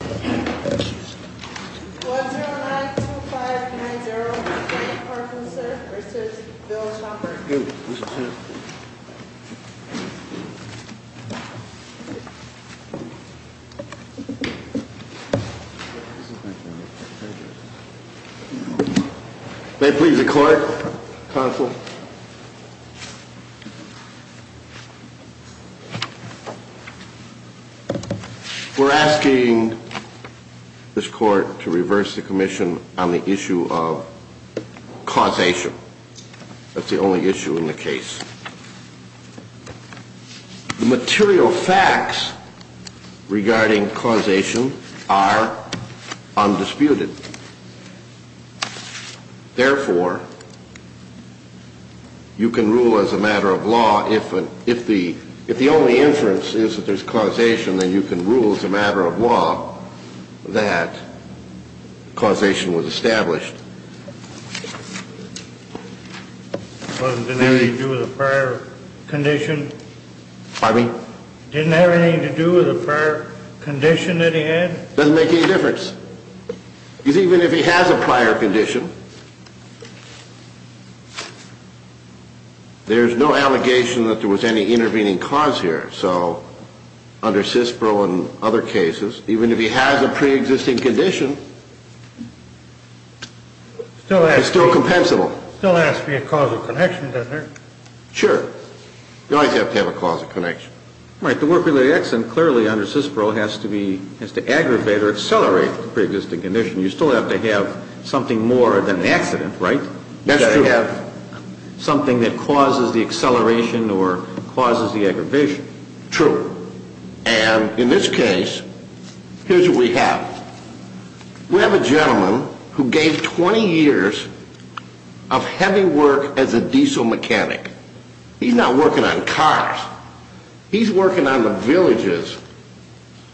1-09-2590 Mr. David Farfusser v. Bill Chalmers May it please the Court, Counsel. We're asking this Court to reverse the Commission on the issue of causation. That's the only issue in the case. The material facts regarding causation are undisputed. Therefore, you can rule as a matter of law if the only inference is that there's causation, then you can rule as a matter of law that causation was established. It wasn't anything to do with a prior condition? Pardon me? Didn't have anything to do with a prior condition that he had? Doesn't make any difference. Because even if he has a prior condition, there's no allegation that there was any intervening cause here. So under CISPRO and other cases, even if he has a preexisting condition, it's still compensable. Still has to be a cause of connection, doesn't it? Sure. You always have to have a cause of connection. Right. The work-related accident clearly under CISPRO has to aggravate or accelerate the preexisting condition. You still have to have something more than an accident, right? That's true. You've got to have something that causes the acceleration or causes the aggravation. True. And in this case, here's what we have. We have a gentleman who gave 20 years of heavy work as a diesel mechanic. He's not working on cars. He's working on the villages,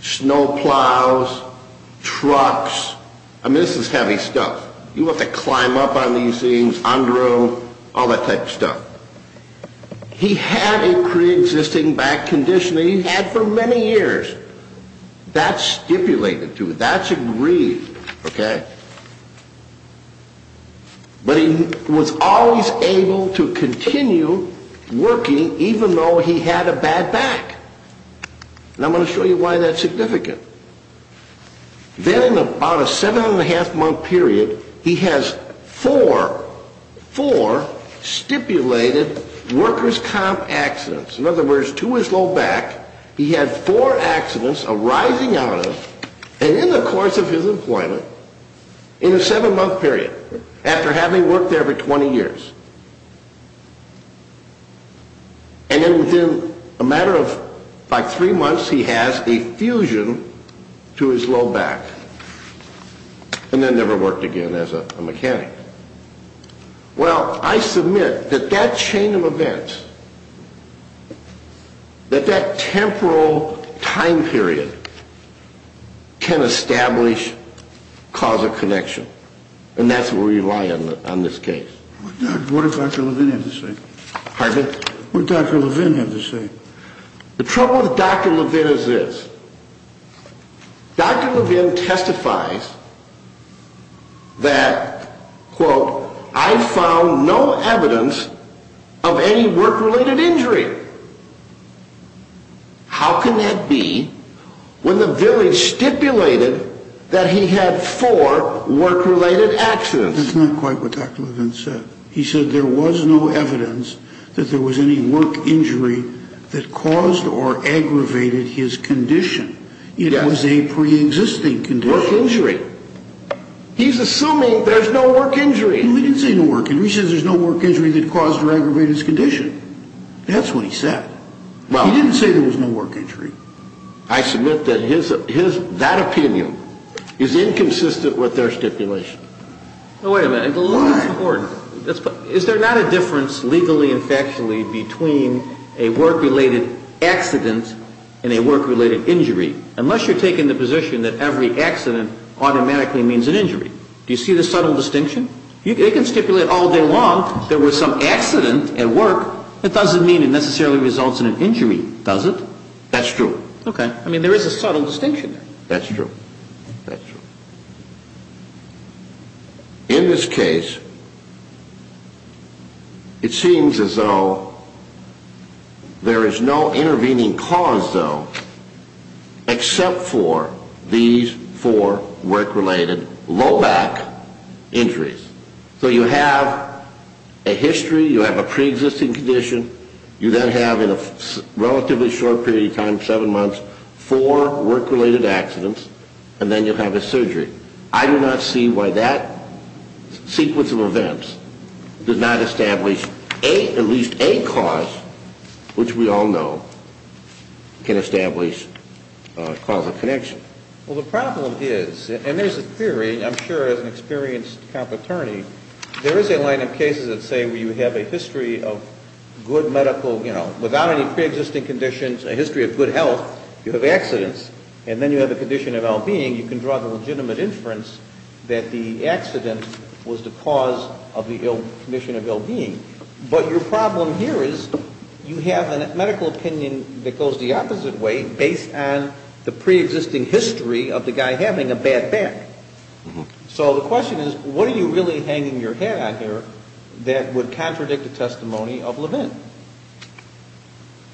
snow plows, trucks. I mean, this is heavy stuff. You have to climb up on these things, under them, all that type of stuff. He had a preexisting back condition that he had for many years. That's stipulated to it. That's agreed. Okay. But he was always able to continue working even though he had a bad back. And I'm going to show you why that's significant. Then in about a seven-and-a-half-month period, he has four stipulated workers' comp accidents. In other words, to his low back, he had four accidents arising out of and in the course of his employment in a seven-month period, after having worked there for 20 years. And then within a matter of, like, three months, he has a fusion to his low back. And then never worked again as a mechanic. Well, I submit that that chain of events, that that temporal time period can establish causal connection. And that's where we rely on this case. What did Dr. Levin have to say? Pardon? What did Dr. Levin have to say? The trouble with Dr. Levin is this. Dr. Levin testifies that, quote, I found no evidence of any work-related injury. How can that be when the village stipulated that he had four work-related accidents? That's not quite what Dr. Levin said. He said there was no evidence that there was any work injury that caused or aggravated his condition. It was a preexisting condition. Work injury. He's assuming there's no work injury. He didn't say no work injury. He said there's no work injury that caused or aggravated his condition. That's what he said. He didn't say there was no work injury. I submit that that opinion is inconsistent with their stipulation. Wait a minute. Why? That's important. Is there not a difference legally and factually between a work-related accident and a work-related injury? Unless you're taking the position that every accident automatically means an injury. Do you see the subtle distinction? They can stipulate all day long there was some accident at work. That doesn't mean it necessarily results in an injury, does it? That's true. Okay. I mean, there is a subtle distinction there. That's true. That's true. In this case, it seems as though there is no intervening cause, though, except for these four work-related low back injuries. So you have a history. You have a preexisting condition. You then have, in a relatively short period of time, seven months, four work-related accidents. And then you'll have a surgery. I do not see why that sequence of events does not establish at least a cause, which we all know can establish a cause of connection. Well, the problem is, and there's a theory, I'm sure, as an experienced cop attorney, there is a line of cases that say you have a history of good medical, you know, without any preexisting conditions, a history of good health. You have accidents. And then you have a condition of ill-being. You can draw the legitimate inference that the accident was the cause of the ill condition of ill-being. But your problem here is you have a medical opinion that goes the opposite way, based on the preexisting history of the guy having a bad back. So the question is, what are you really hanging your head on here that would contradict the testimony of Levin?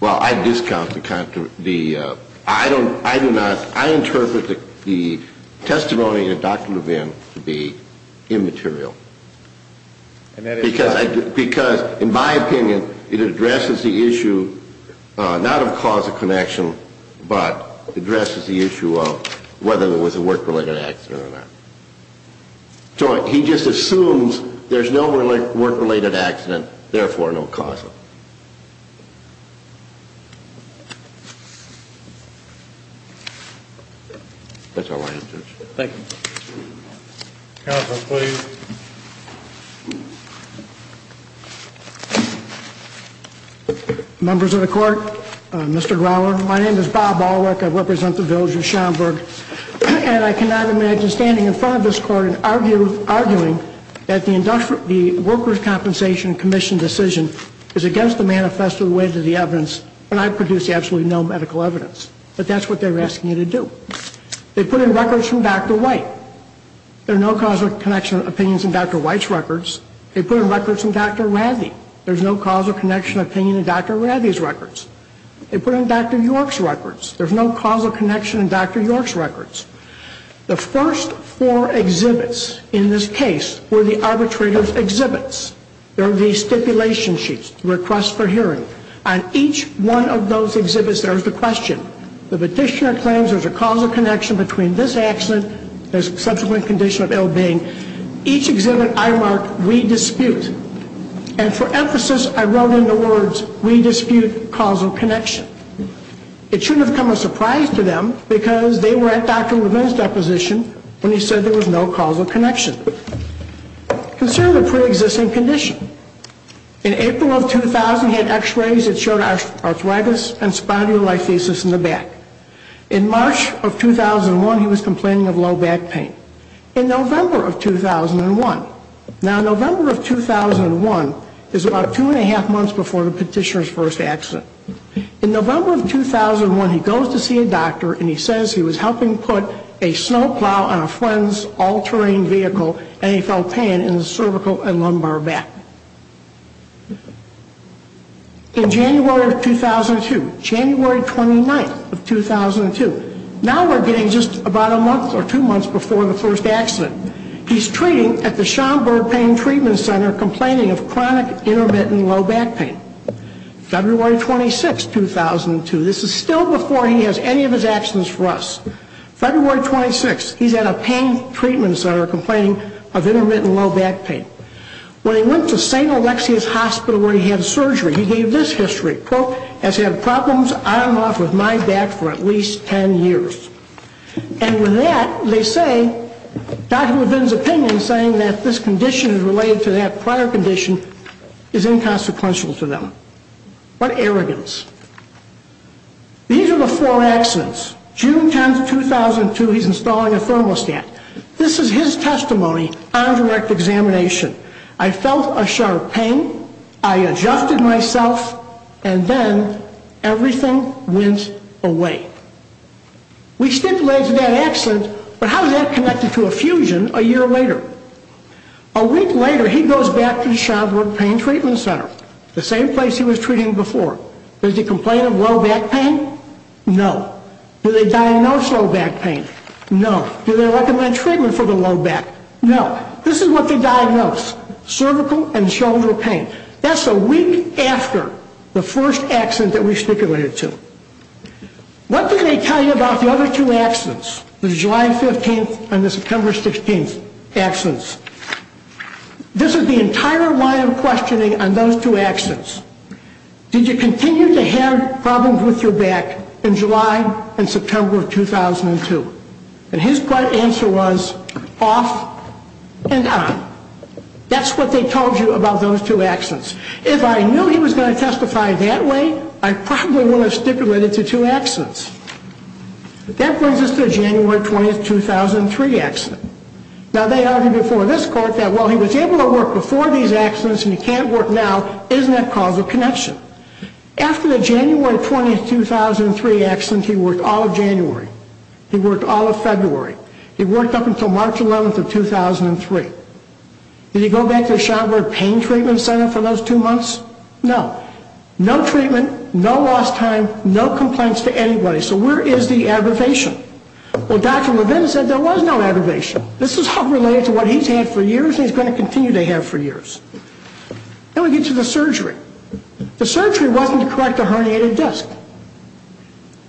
Well, I discount the contradiction. I do not. I interpret the testimony of Dr. Levin to be immaterial. Because, in my opinion, it addresses the issue not of cause of connection, but addresses the issue of whether it was a work-related accident or not. So he just assumes there's no work-related accident, therefore, no cause of it. That's all I have, Judge. Thank you. Counsel, please. Members of the Court, Mr. Growler, my name is Bob Alwick. I represent the village of Schaumburg. And I cannot imagine standing in front of this Court and arguing that the Workers' Compensation Commission decision is against the manifesto with the evidence when I produce absolutely no medical evidence. But that's what they're asking you to do. They put in records from Dr. White. There are no cause of connection opinions in Dr. White's records. They put in records from Dr. Rathie. There's no cause of connection opinion in Dr. Rathie's records. They put in Dr. York's records. There's no cause of connection in Dr. York's records. The first four exhibits in this case were the arbitrator's exhibits. They're the stipulation sheets, requests for hearing. On each one of those exhibits, there is a question. The petitioner claims there's a cause of connection between this accident and the subsequent condition of ill-being. Each exhibit I mark, we dispute. And for emphasis, I wrote in the words, we dispute cause of connection. It shouldn't have come as a surprise to them because they were at Dr. Levin's deposition when he said there was no cause of connection. Consider the preexisting condition. In April of 2000, he had x-rays that showed arthritis and spondylolisthesis in the back. In March of 2001, he was complaining of low back pain. In November of 2001, now November of 2001 is about two and a half months before the petitioner's first accident. In November of 2001, he goes to see a doctor and he says he was helping put a snowplow on a friend's all-terrain vehicle and he felt pain in his cervical and lumbar back. In January of 2002, January 29th of 2002, now we're getting just about a month or two months before the first accident, he's treating at the Schomburg Pain Treatment Center complaining of chronic intermittent low back pain. February 26th, 2002, this is still before he has any of his accidents for us. February 26th, he's at a pain treatment center complaining of intermittent low back pain. When he went to St. Alexia's Hospital where he had surgery, he gave this history, quote, has had problems on and off with my back for at least ten years. And with that, they say, Dr. Levin's opinion saying that this condition is related to that prior condition is inconsequential to them. What arrogance. These are the four accidents. June 10th, 2002, he's installing a thermostat. This is his testimony on direct examination. I felt a sharp pain, I adjusted myself, and then everything went away. We stipulated that accident, but how is that connected to a fusion a year later? A week later, he goes back to the Schomburg Pain Treatment Center, the same place he was treating before. Does he complain of low back pain? No. Do they diagnose low back pain? No. Do they recommend treatment for the low back? No. This is what they diagnose, cervical and shoulder pain. That's a week after the first accident that we stipulated to. What did they tell you about the other two accidents, the July 15th and the September 16th accidents? This is the entire line of questioning on those two accidents. Did you continue to have problems with your back in July and September of 2002? And his blunt answer was, off and on. That's what they told you about those two accidents. If I knew he was going to testify that way, I probably would have stipulated to two accidents. That brings us to the January 20th, 2003 accident. Now, they argued before this court that while he was able to work before these accidents and he can't work now, isn't that causal connection? After the January 20th, 2003 accident, he worked all of January. He worked all of February. He worked up until March 11th of 2003. Did he go back to the Schomburg Pain Treatment Center for those two months? No. No treatment, no lost time, no complaints to anybody. So where is the aggravation? Well, Dr. Levin said there was no aggravation. This is all related to what he's had for years and he's going to continue to have for years. Then we get to the surgery. The surgery wasn't to correct the herniated disc.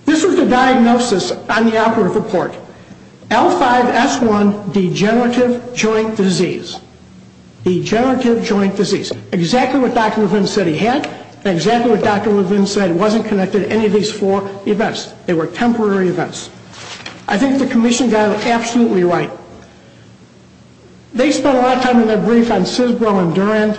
This was the diagnosis on the operative report. L5-S1 degenerative joint disease. Degenerative joint disease. Exactly what Dr. Levin said he had and exactly what Dr. Levin said wasn't connected to any of these four events. They were temporary events. I think the commission got it absolutely right. They spent a lot of time in their brief on Sisbro and Durand.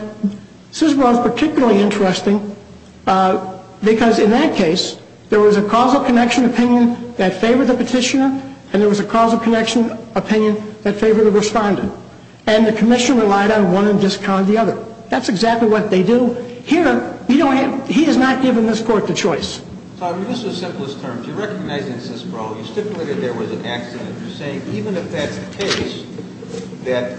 Sisbro is particularly interesting because in that case, there was a causal connection opinion that favored the petitioner and there was a causal connection opinion that favored the respondent. And the commission relied on one and discounted the other. That's exactly what they do. Here, he has not given this court the choice. I'll use the simplest terms. You recognize in Sisbro you stipulated there was an accident. You're saying even if that's the case, that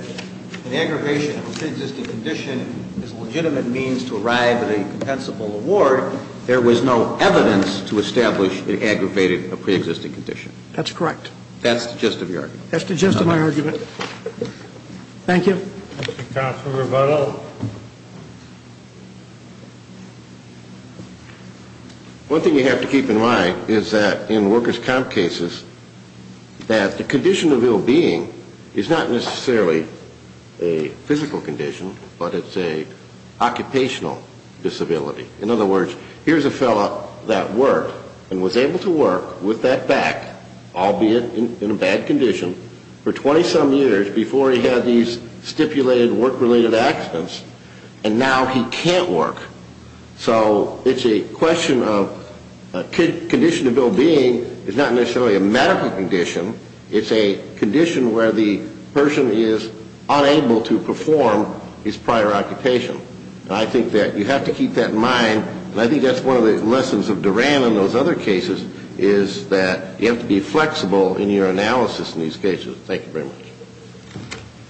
an aggravation of a pre-existing condition is a legitimate means to arrive at a compensable award, there was no evidence to establish it aggravated a pre-existing condition. That's correct. That's the gist of your argument. That's the gist of my argument. Thank you. Counsel Rebuttal. One thing you have to keep in mind is that in workers' comp cases, that the condition of ill-being is not necessarily a physical condition, but it's an occupational disability. In other words, here's a fellow that worked and was able to work with that back, albeit in a bad condition, for 20-some years before he had these stipulated work-related accidents, and now he can't work. So it's a question of condition of ill-being is not necessarily a medical condition. It's a condition where the person is unable to perform his prior occupation. I think that you have to keep that in mind, and I think that's one of the lessons of Duran in those other cases, is that you have to be flexible in your analysis in these cases. Thank you very much.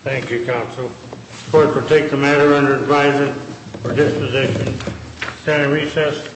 Thank you, counsel. The court will take the matter under advisement for disposition. Senate recess.